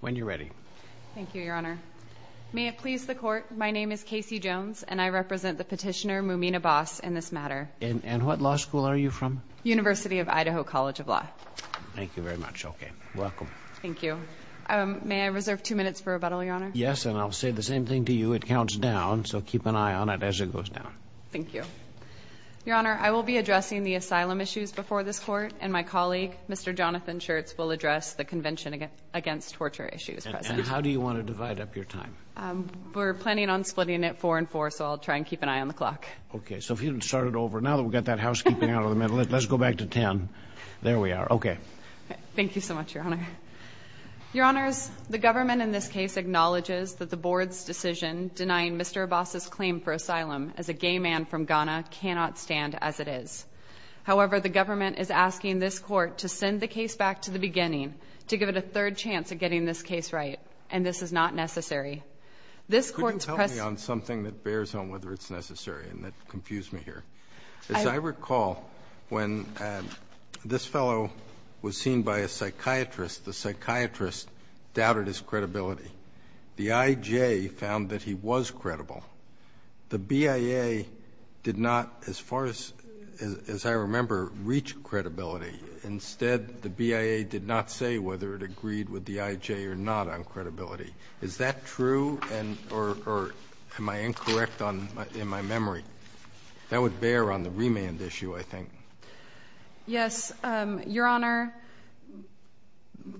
When you're ready. Thank you, Your Honor. May it please the court, my name is Casey Jones and I represent the petitioner Mumin Abass in this matter. And what law school are you from? University of Idaho College of Law. Thank you very much. Okay, welcome. Thank you. May I reserve two minutes for rebuttal, Your Honor? Yes, and I'll say the same thing to you. It counts down, so keep an eye on it as it goes down. Thank you. Your Honor, I will be addressing the asylum issues before this court, and my colleague, Mr. Jonathan Schertz, will address the Convention Against Torture Issues. And how do you want to divide up your time? We're planning on splitting it four and four, so I'll try and keep an eye on the clock. Okay, so if you can start it over. Now that we've got that housekeeping out of the middle, let's go back to ten. There we are. Okay. Thank you so much, Your Honor. Your Honors, the government in this case acknowledges that the board's decision denying Mr. Abass's claim for asylum as a gay man from Ghana cannot stand as it is. However, the government is asking this Court to send the case back to the beginning to give it a third chance at getting this case right, and this is not necessary. This Court's press Can you help me on something that bears on whether it's necessary and that confused me here? As I recall, when this fellow was seen by a psychiatrist, the psychiatrist doubted his credibility. The I.J. found that he was credible. The BIA did not, as far as I'm concerned, believe that the I.J. did not, as far as I remember, reach credibility. Instead, the BIA did not say whether it agreed with the I.J. or not on credibility. Is that true? And or am I incorrect on my memory? That would bear on the remand issue, I think. Yes, Your Honor.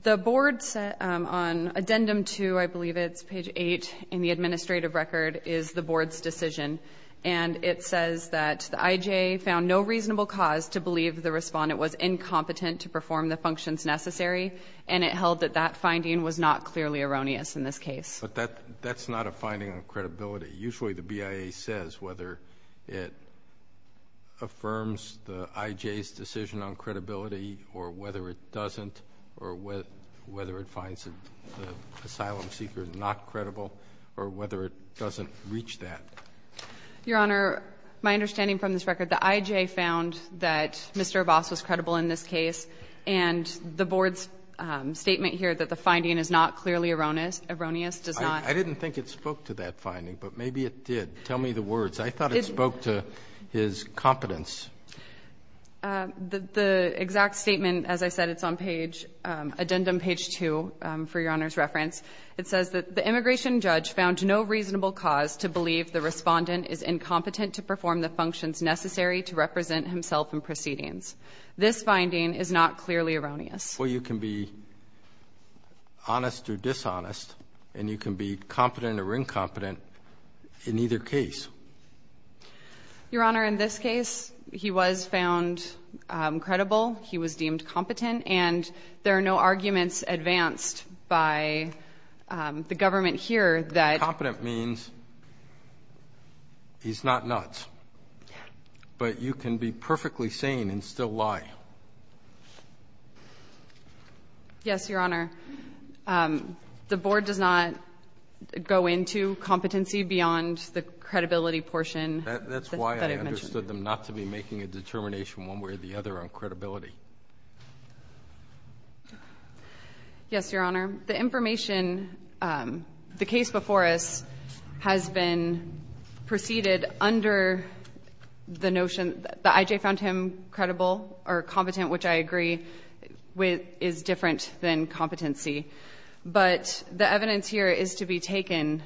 The board's, on Addendum 2, I believe it's page 8 in the administrative record, is the board's decision, and it says that the I.J. found no reasonable cause to believe the Respondent was incompetent to perform the functions necessary, and it held that that finding was not clearly erroneous in this case. But that's not a finding on credibility. Usually, the BIA says whether it affirms the I.J.'s decision on credibility or whether it doesn't or whether it finds the doesn't reach that. Your Honor, my understanding from this record, the I.J. found that Mr. Abbas was credible in this case, and the board's statement here that the finding is not clearly erroneous does not. I didn't think it spoke to that finding, but maybe it did. Tell me the words. I thought it spoke to his competence. The exact statement, as I said, it's on page, Addendum page 2, for Your Honor's reference, it says that the immigration judge found no reasonable cause to believe the Respondent is incompetent to perform the functions necessary to represent himself in proceedings. This finding is not clearly erroneous. Well, you can be honest or dishonest, and you can be competent or incompetent in either case. Your Honor, in this case, he was found credible, he was deemed competent, and there are no arguments advanced by the government here that he's not nuts. Competent means he's not nuts, but you can be perfectly sane and still lie. Yes, Your Honor. The board does not go into competency beyond the credibility portion that I've mentioned. That's why I understood them not to be making a determination one way or the other on credibility. Yes, Your Honor. The information, the case before us has been preceded under the notion that the I.J. found him credible or competent, which I agree is different than competency. But the evidence here is to be taken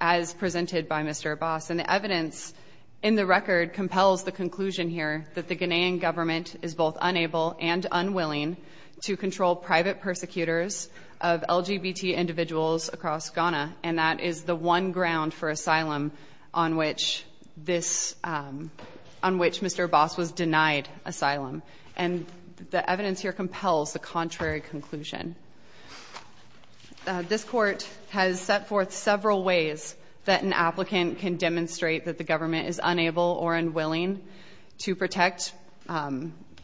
as presented by Mr. Abbas, and the evidence in the record compels the conclusion here that the Ghanaian government is both unable and unwilling to control private persecutors of LGBT individuals across Ghana, and that is the one ground for asylum on which this — on which Mr. Abbas was denied asylum. And the evidence here compels the contrary conclusion. This Court has set forth several ways that an applicant can demonstrate that the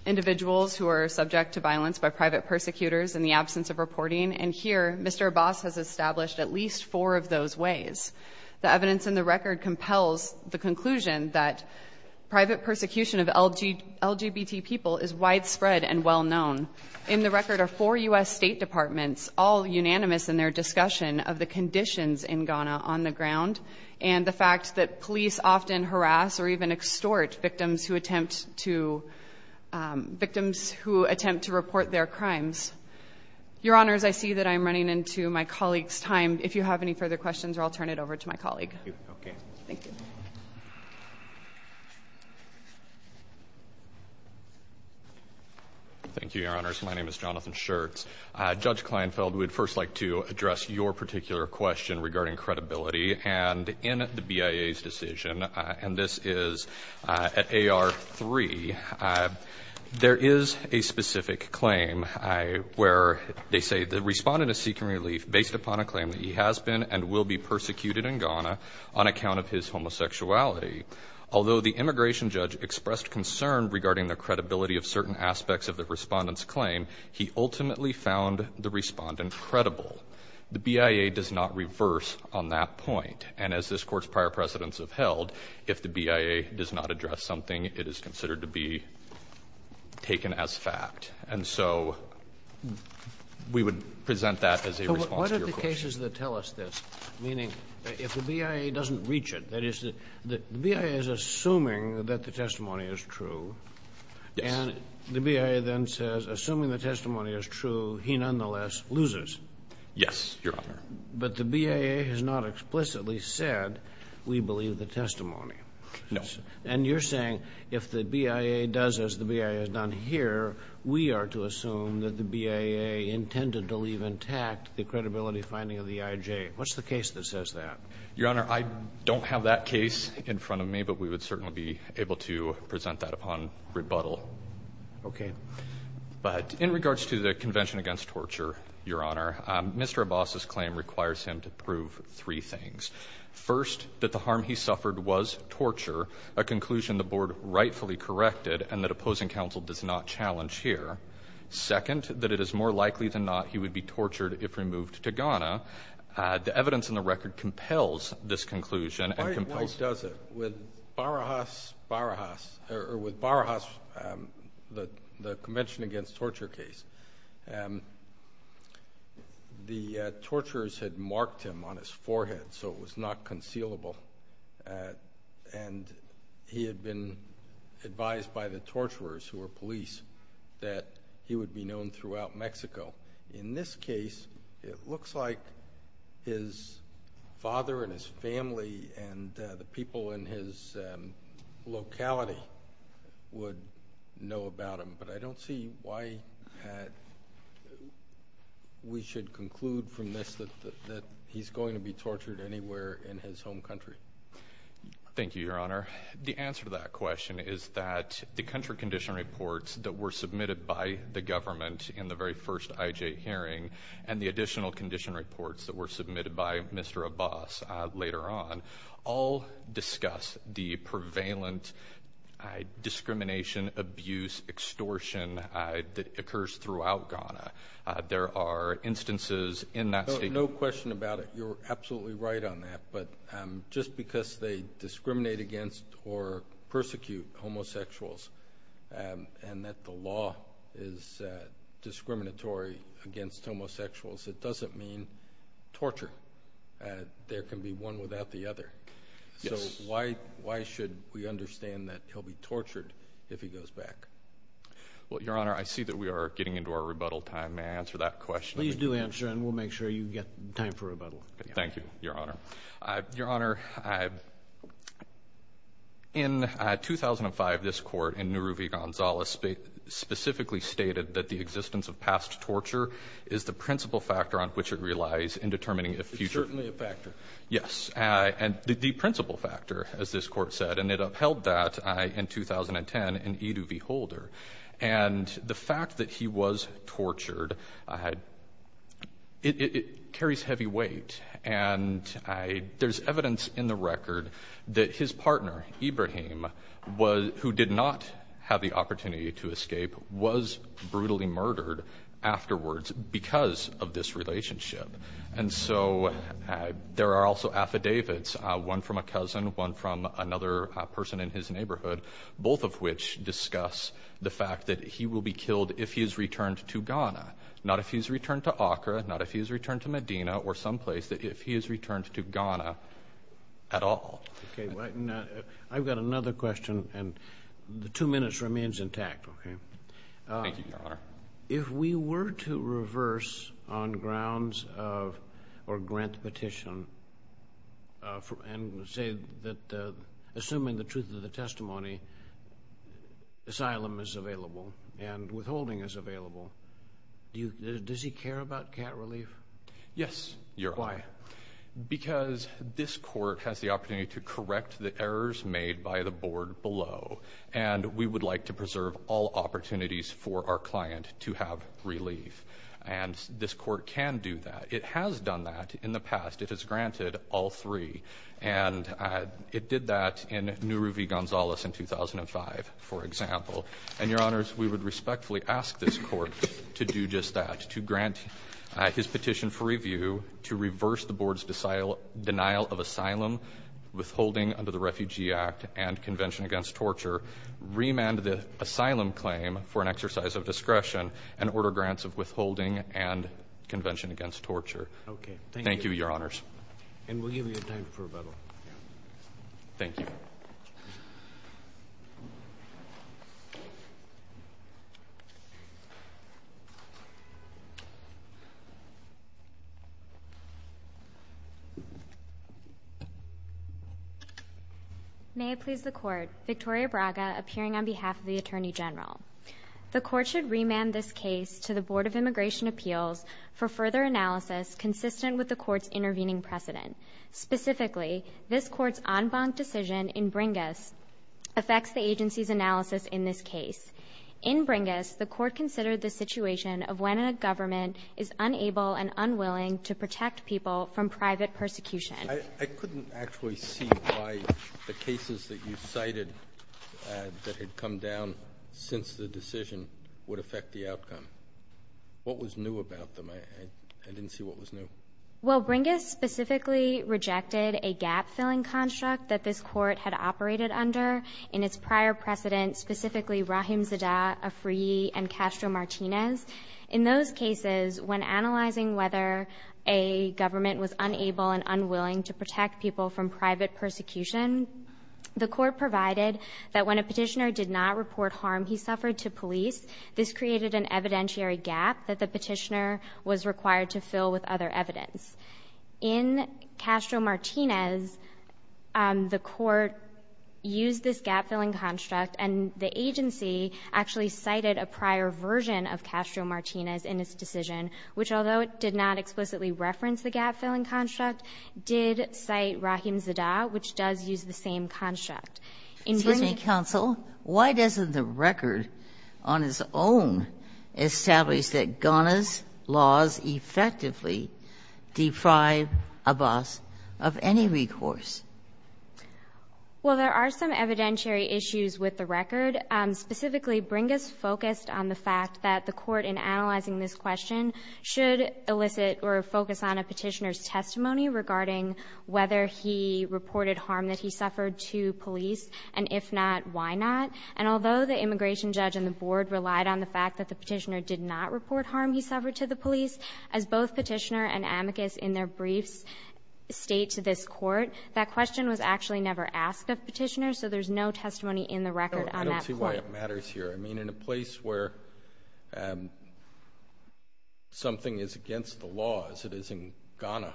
individuals who are subject to violence by private persecutors in the absence of reporting, and here Mr. Abbas has established at least four of those ways. The evidence in the record compels the conclusion that private persecution of LGBT people is widespread and well-known. In the record are four U.S. State Departments, all unanimous in their discussion of the conditions in Ghana on the ground, and the fact that police often harass or even extort victims who attempt to — victims who attempt to report their crimes. Your Honors, I see that I'm running into my colleague's time. If you have any further questions, I'll turn it over to my colleague. Thank you. Okay. Thank you, Your Honors. My name is Jonathan Schertz. Judge Kleinfeld, we'd first like to address your particular question regarding credibility, and in the BIA's decision, and this is at AR-3, there is a specific claim where they say the respondent is seeking relief based upon a claim that he has been and will be persecuted in Ghana on account of his homosexuality. Although the immigration judge expressed concern regarding the credibility of certain aspects of the respondent's claim, he ultimately found the respondent credible. The BIA does not reverse on that point. And as this Court's prior precedents have held, if the BIA does not address something, it is considered to be taken as fact. And so we would present that as a response to your question. So what are the cases that tell us this? Meaning, if the BIA doesn't reach it, that is, the BIA is assuming that the testimony is true. Yes. And the BIA then says, assuming the testimony is true, he nonetheless loses. Yes, Your Honor. But the BIA has not explicitly said, we believe the testimony. No. And you're saying if the BIA does as the BIA has done here, we are to assume that the BIA intended to leave intact the credibility finding of the EIJ. What's the case that says that? Your Honor, I don't have that case in front of me, but we would certainly be able to present that upon rebuttal. Okay. But in regards to the Convention Against Torture, Your Honor, Mr. Abbas's claim requires him to prove three things. First, that the harm he suffered was torture, a conclusion the Board rightfully corrected, and that opposing counsel does not challenge here. Second, that it is more likely than not he would be tortured if removed to Ghana. The evidence in the record compels this conclusion and compels the Court. Why does it? With Barajas, the Convention Against Torture case, the torturers had marked him on his forehead so it was not concealable, and he had been advised by the torturers, who were police, that he would be known throughout Mexico. In this case, it looks like his father and his family and the people in his locality would know about him. But I don't see why we should conclude from this that he's going to be tortured anywhere in his home country. Thank you, Your Honor. The answer to that question is that the country condition reports that were submitted to the IJ hearing and the additional condition reports that were submitted by Mr. Abbas later on all discuss the prevalent discrimination, abuse, extortion that occurs throughout Ghana. There are instances in that state. No question about it. You're absolutely right on that. But just because they discriminate against or persecute homosexuals and that the law is discriminatory against homosexuals, it doesn't mean torture. There can be one without the other. Yes. So why should we understand that he'll be tortured if he goes back? Well, Your Honor, I see that we are getting into our rebuttal time. May I answer that question? Please do answer and we'll make sure you get time for rebuttal. Thank you, Your Honor. Your Honor, in 2005, this court in Nuruvi-Gonzalez specifically stated that the existence of past torture is the principal factor on which it relies in determining the future. It's certainly a factor. Yes. And the principal factor, as this court said, and it upheld that in 2010 in Edu V. Holder. And the fact that he was tortured, it carries heavy weight. And there's evidence in the record that his partner, Ibrahim, who did not have the opportunity to escape, was brutally murdered afterwards because of this relationship. And so there are also affidavits, one from a cousin, one from another person in his neighborhood, both of which discuss the fact that he will be killed if he is returned to Ghana, not if he's returned to Accra, not if he's returned to Medina or someplace, that if he is returned to Ghana at all. Okay. I've got another question and the two minutes remains intact, okay? Thank you, Your Honor. If we were to reverse on grounds of or grant the petition and say that assuming the truth of the testimony, asylum is available and withholding is available, does he care about cat relief? Yes, Your Honor. Why? Because this court has the opportunity to correct the errors made by the board below. And we would like to preserve all opportunities for our client to have relief. And this court can do that. It has done that in the past. It has granted all three. And it did that in Nuruvi Gonzalez in 2005, for example. And, Your Honors, we would respectfully ask this court to do just that, to grant his petition for review, to reverse the board's denial of asylum, withholding under the Refugee Act and Convention Against Torture, remand the asylum claim for an exercise of discretion, and order grants of withholding and Convention Against Torture. Okay. Thank you. Thank you, Your Honors. And we'll give you time for rebuttal. Thank you. May it please the Court. Victoria Braga, appearing on behalf of the Attorney General. The Court should remand this case to the Board of Immigration Appeals for further analysis consistent with the Court's intervening precedent. Specifically, this Court's en banc decision in Bringas affects the agency's analysis in this case. In Bringas, the Court considered the situation of when a government is unable and unwilling to protect people from private persecution. I couldn't actually see why the cases that you cited that had come down since the decision would affect the outcome. What was new about them? I didn't see what was new. Well, Bringas specifically rejected a gap-filling construct that this Court had operated under in its prior precedent, specifically Rahim Zadah, Afriyi, and Castro Martinez. In those cases, when analyzing whether a government was unable and unwilling to protect people from private persecution, the Court provided that when a petitioner did not report harm he suffered to police, this created an evidentiary gap that the petitioner was required to fill with other evidence. In Castro Martinez, the Court used this gap-filling construct, and the agency actually cited a prior version of Castro Martinez in its decision, which although it did not explicitly reference the gap-filling construct, did cite Rahim Zadah, which does use the same construct. Excuse me, counsel. Why doesn't the record on its own establish that Ghana's laws effectively deprive Abbas of any recourse? Well, there are some evidentiary issues with the record. Specifically, Bringas focused on the fact that the Court, in analyzing this question, should elicit or focus on a petitioner's testimony regarding whether he reported harm that he suffered to police, and if not, why not. And although the immigration judge and the Board relied on the fact that the petitioner did not report harm he suffered to the police, as both Petitioner and Amicus in their briefs state to this Court, that question was actually never asked of Petitioner, so there's no testimony in the record on that point. I don't see why it matters here. I mean, in a place where something is against the law, as it is in Ghana,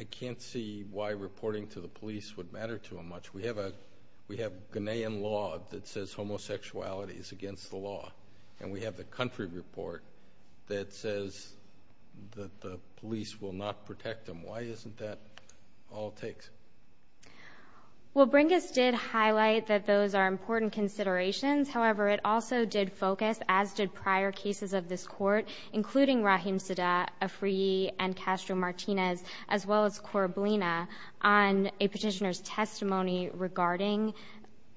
I can't see why reporting to the police would matter to him much. We have Ghanaian law that says homosexuality is against the law, and we have the country report that says that the police will not protect him. Why isn't that all it takes? Well, Bringas did highlight that those are important considerations. However, it also did focus, as did prior cases of this Court, including Rahim Sadat, Afriyi, and Castro-Martinez, as well as Korablina, on a petitioner's testimony regarding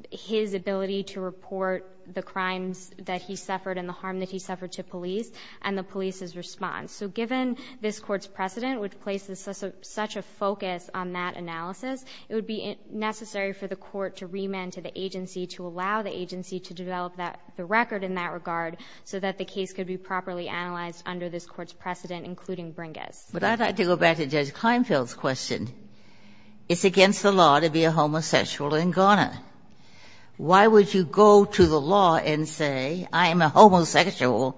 his ability to report the crimes that he suffered and the harm that he suffered to police and the police's response. So given this Court's precedent, which places such a focus on that analysis, it would be necessary for the Court to remand to the agency to allow the agency to develop the record in that regard so that the case could be properly analyzed under this Court's precedent, including Bringas. But I'd like to go back to Judge Kleinfeld's question. It's against the law to be a homosexual in Ghana. Why would you go to the law and say, I am a homosexual?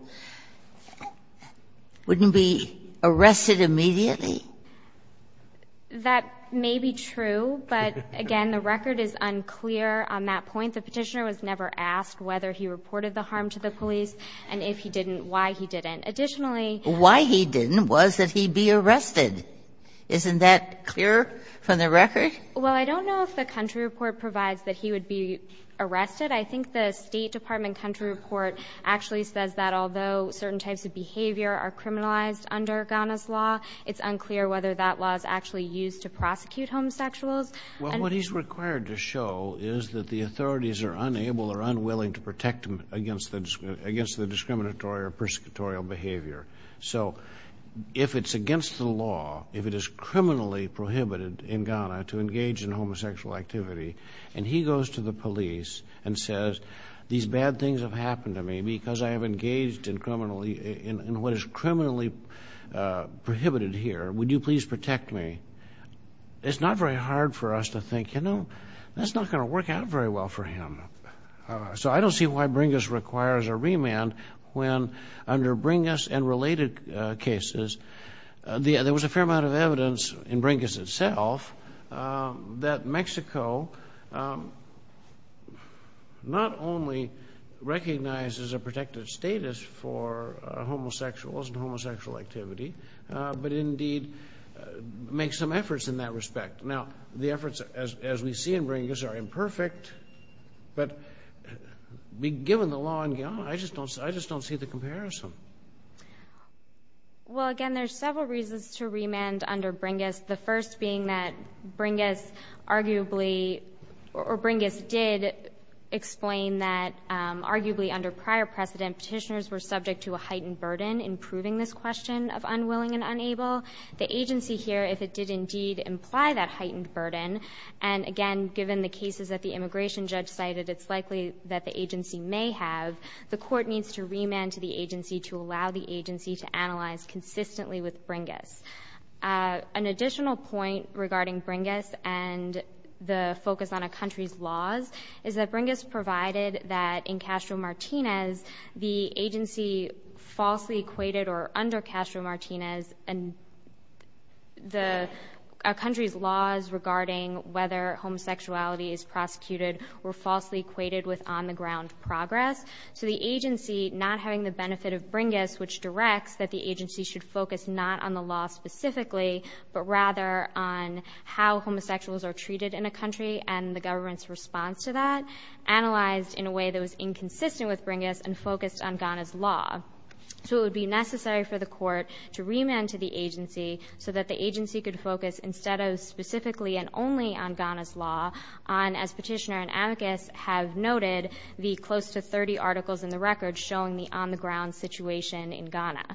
Wouldn't he be arrested immediately? That may be true, but, again, the record is unclear on that point. The petitioner was never asked whether he reported the harm to the police and if he didn't, why he didn't. Additionally — Why he didn't was that he'd be arrested. Isn't that clear from the record? Well, I don't know if the country report provides that he would be arrested. I think the State Department country report actually says that although certain types of behavior are criminalized under Ghana's law, it's unclear whether that law is actually used to prosecute homosexuals. Well, what he's required to show is that the authorities are unable or unwilling to protect him against the discriminatory or persecutorial behavior. So if it's against the law, if it is criminally prohibited in Ghana to engage in homosexual activity, and he goes to the police and says, these bad things have happened to me because I have engaged in criminally — in what is criminally prohibited here, would you please protect me? It's not very hard for us to think, you know, that's not going to work out very well for him. So I don't see why Bringus requires a remand when under Bringus and related cases, there was a fair amount of evidence in Bringus itself that Mexico not only recognizes a protected status for homosexuals and homosexual activity, but indeed makes some efforts in that respect. Now, the efforts as we see in Bringus are imperfect, but given the law in Ghana, I just don't see the comparison. Well, again, there's several reasons to remand under Bringus, the first being that Bringus arguably — or Bringus did explain that arguably under prior precedent petitioners were subject to a heightened burden in proving this question of unwilling and unable. The agency here, if it did indeed imply that heightened burden, and again, given the cases that the immigration judge cited, it's likely that the agency may have, the court needs to remand to the agency to allow the agency to analyze consistently with Bringus. An additional point regarding Bringus and the focus on a country's laws is that under Castro-Martinez, the agency falsely equated, or under Castro-Martinez, a country's laws regarding whether homosexuality is prosecuted were falsely equated with on-the-ground progress. So the agency not having the benefit of Bringus, which directs that the agency should focus not on the law specifically, but rather on how homosexuals are treated in a country and the government's response to that, analyzed in a way that was inconsistent with Bringus and focused on Ghana's law. So it would be necessary for the court to remand to the agency so that the agency could focus instead of specifically and only on Ghana's law, on, as petitioner and advocates have noted, the close to 30 articles in the record showing the on-the-ground situation in Ghana.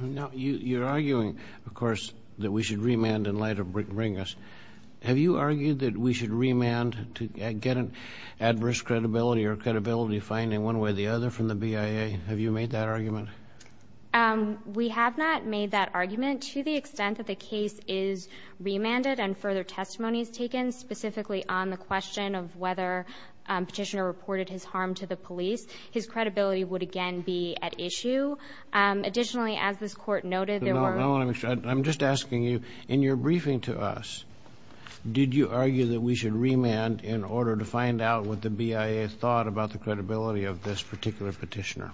Now, you're arguing, of course, that we should remand in light of Bringus. Have you argued that we should remand to get an adverse credibility or credibility finding, one way or the other, from the BIA? Have you made that argument? We have not made that argument. To the extent that the case is remanded and further testimony is taken, specifically on the question of whether Petitioner reported his harm to the police, his credibility would again be at issue. Additionally, as this Court noted, there were no other issues. I'm just asking you, in your briefing to us, did you argue that we should remand in order to find out what the BIA thought about the credibility of this particular petitioner?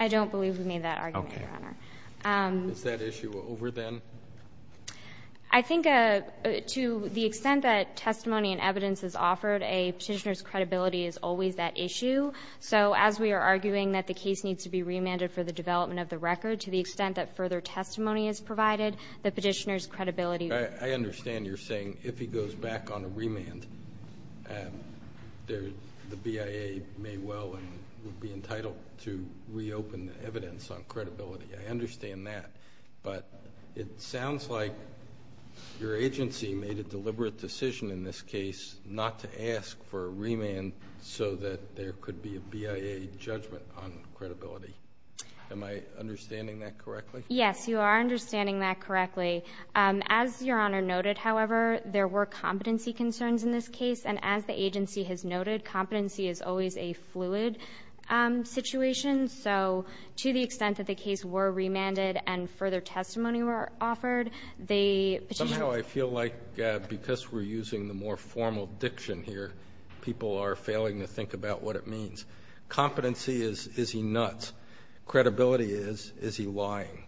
I don't believe we made that argument, Your Honor. Okay. Is that issue over then? I think to the extent that testimony and evidence is offered, a petitioner's credibility is always at issue. So as we are arguing that the case needs to be remanded for the development of the record, to the extent that further testimony is provided, the petitioner's credibility would be at issue. The BIA may well be entitled to reopen evidence on credibility. I understand that, but it sounds like your agency made a deliberate decision in this case not to ask for a remand so that there could be a BIA judgment on credibility. Am I understanding that correctly? Yes, you are understanding that correctly. As Your Honor noted, however, there were competency concerns in this case, and as the agency has noted, competency is always a fluid situation. So to the extent that the case were remanded and further testimony were offered, the petitioner's ---- Somehow I feel like because we're using the more formal diction here, people are failing to think about what it means. Competency is, is he nuts? Credibility is, is he lying?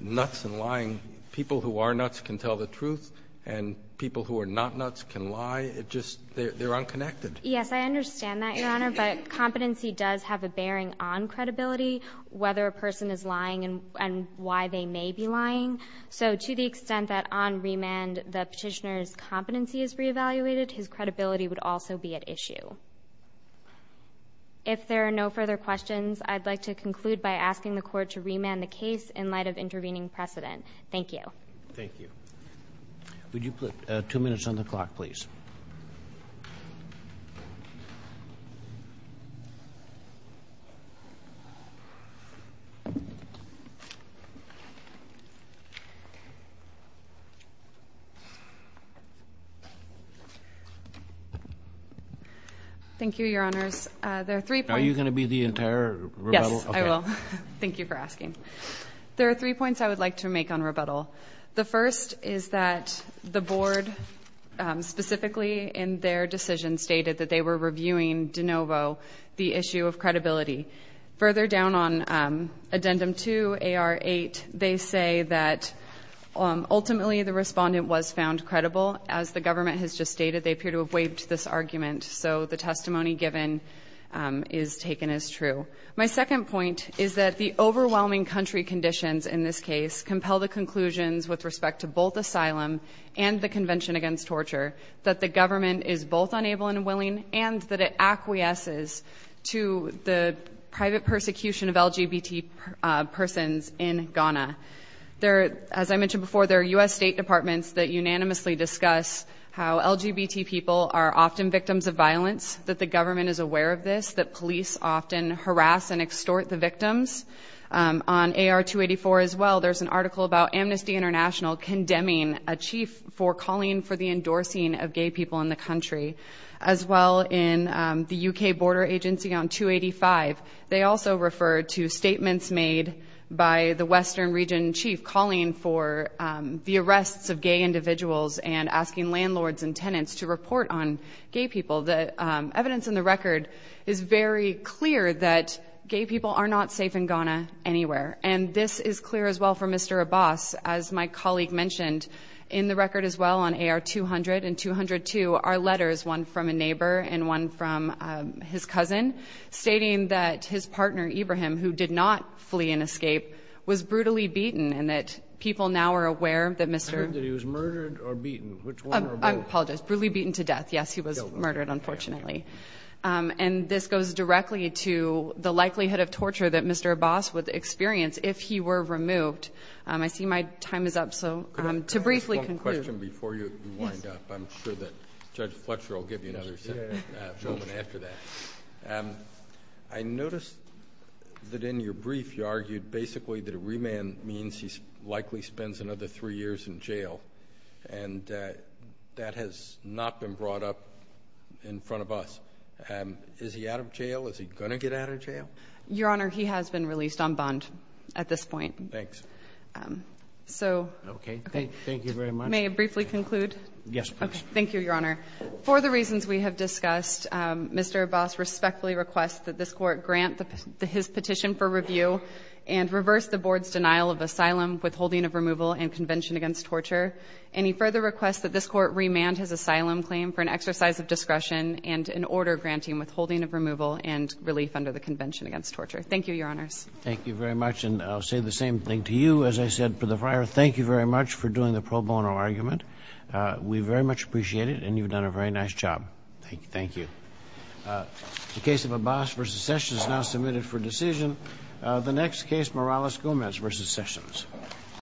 Nuts and lying, people who are nuts can tell the truth and people who are not nuts can lie. It just, they're unconnected. Yes, I understand that, Your Honor, but competency does have a bearing on credibility, whether a person is lying and why they may be lying. So to the extent that on remand the petitioner's competency is reevaluated, his credibility would also be at issue. If there are no further questions, I'd like to conclude by asking the Court to remand the case in light of intervening precedent. Thank you. Thank you. Would you put two minutes on the clock, please? Thank you, Your Honors. There are three points. Are you going to be the entire rebuttal? Yes, I will. Thank you for asking. There are three points I would like to make on rebuttal. The first is that the Board, specifically in their decision, stated that they were reviewing de novo the issue of credibility. Further down on Addendum 2 AR8, they say that ultimately the respondent was found credible. As the government has just stated, they appear to have waived this argument, so the testimony given is taken as true. My second point is that the overwhelming country conditions in this case compel the conclusions with respect to both asylum and the Convention Against Torture that the government is both unable and willing and that it acquiesces to the private persecution of LGBT persons in Ghana. As I mentioned before, there are U.S. State Departments that unanimously discuss how LGBT people are often victims of violence, that the government is aware of this, that police often harass and extort the victims. On AR284 as well, there's an article about Amnesty International condemning a chief for calling for the endorsing of gay people in the country. As well in the U.K. Border Agency on 285, they also referred to statements made by the Western Region chief calling for the arrests of gay individuals and asking landlords and tenants to report on gay people. The evidence in the record is very clear that gay people are not safe in Ghana anywhere, and this is clear as well for Mr. Abbas. As my colleague mentioned, in the record as well on AR200 and 202 are letters, one from a neighbor and one from his cousin, stating that his partner, Ibrahim, who did not flee and escape, was brutally beaten and that people now are aware that Mr. I heard that he was murdered or beaten, which one or both? I apologize, brutally beaten to death. Yes, he was murdered, unfortunately. And this goes directly to the likelihood of torture that Mr. Abbas would experience if he were removed. I see my time is up, so to briefly conclude. Can I ask one question before you wind up? I'm sure that Judge Fletcher will give you another moment after that. I noticed that in your brief you argued basically that a remand means he likely spends another three years in jail, and that has not been brought up in front of us. Is he out of jail? Is he going to get out of jail? Your Honor, he has been released on bond at this point. Thanks. So. Okay. Thank you very much. May I briefly conclude? Yes, please. Thank you, Your Honor. For the reasons we have discussed, Mr. Abbas respectfully requests that this Court grant his petition for review and reverse the Board's denial of asylum, withholding of removal, and convention against torture. Any further requests that this Court remand his asylum claim for an exercise of discretion and an order granting withholding of removal and relief under the convention against torture. Thank you, Your Honors. Thank you very much. And I'll say the same thing to you. As I said to the Friar, thank you very much for doing the pro bono argument. We very much appreciate it, and you've done a very nice job. Thank you. The case of Abbas v. Sessions is now submitted for decision. The next case, Morales-Gomez v. Sessions.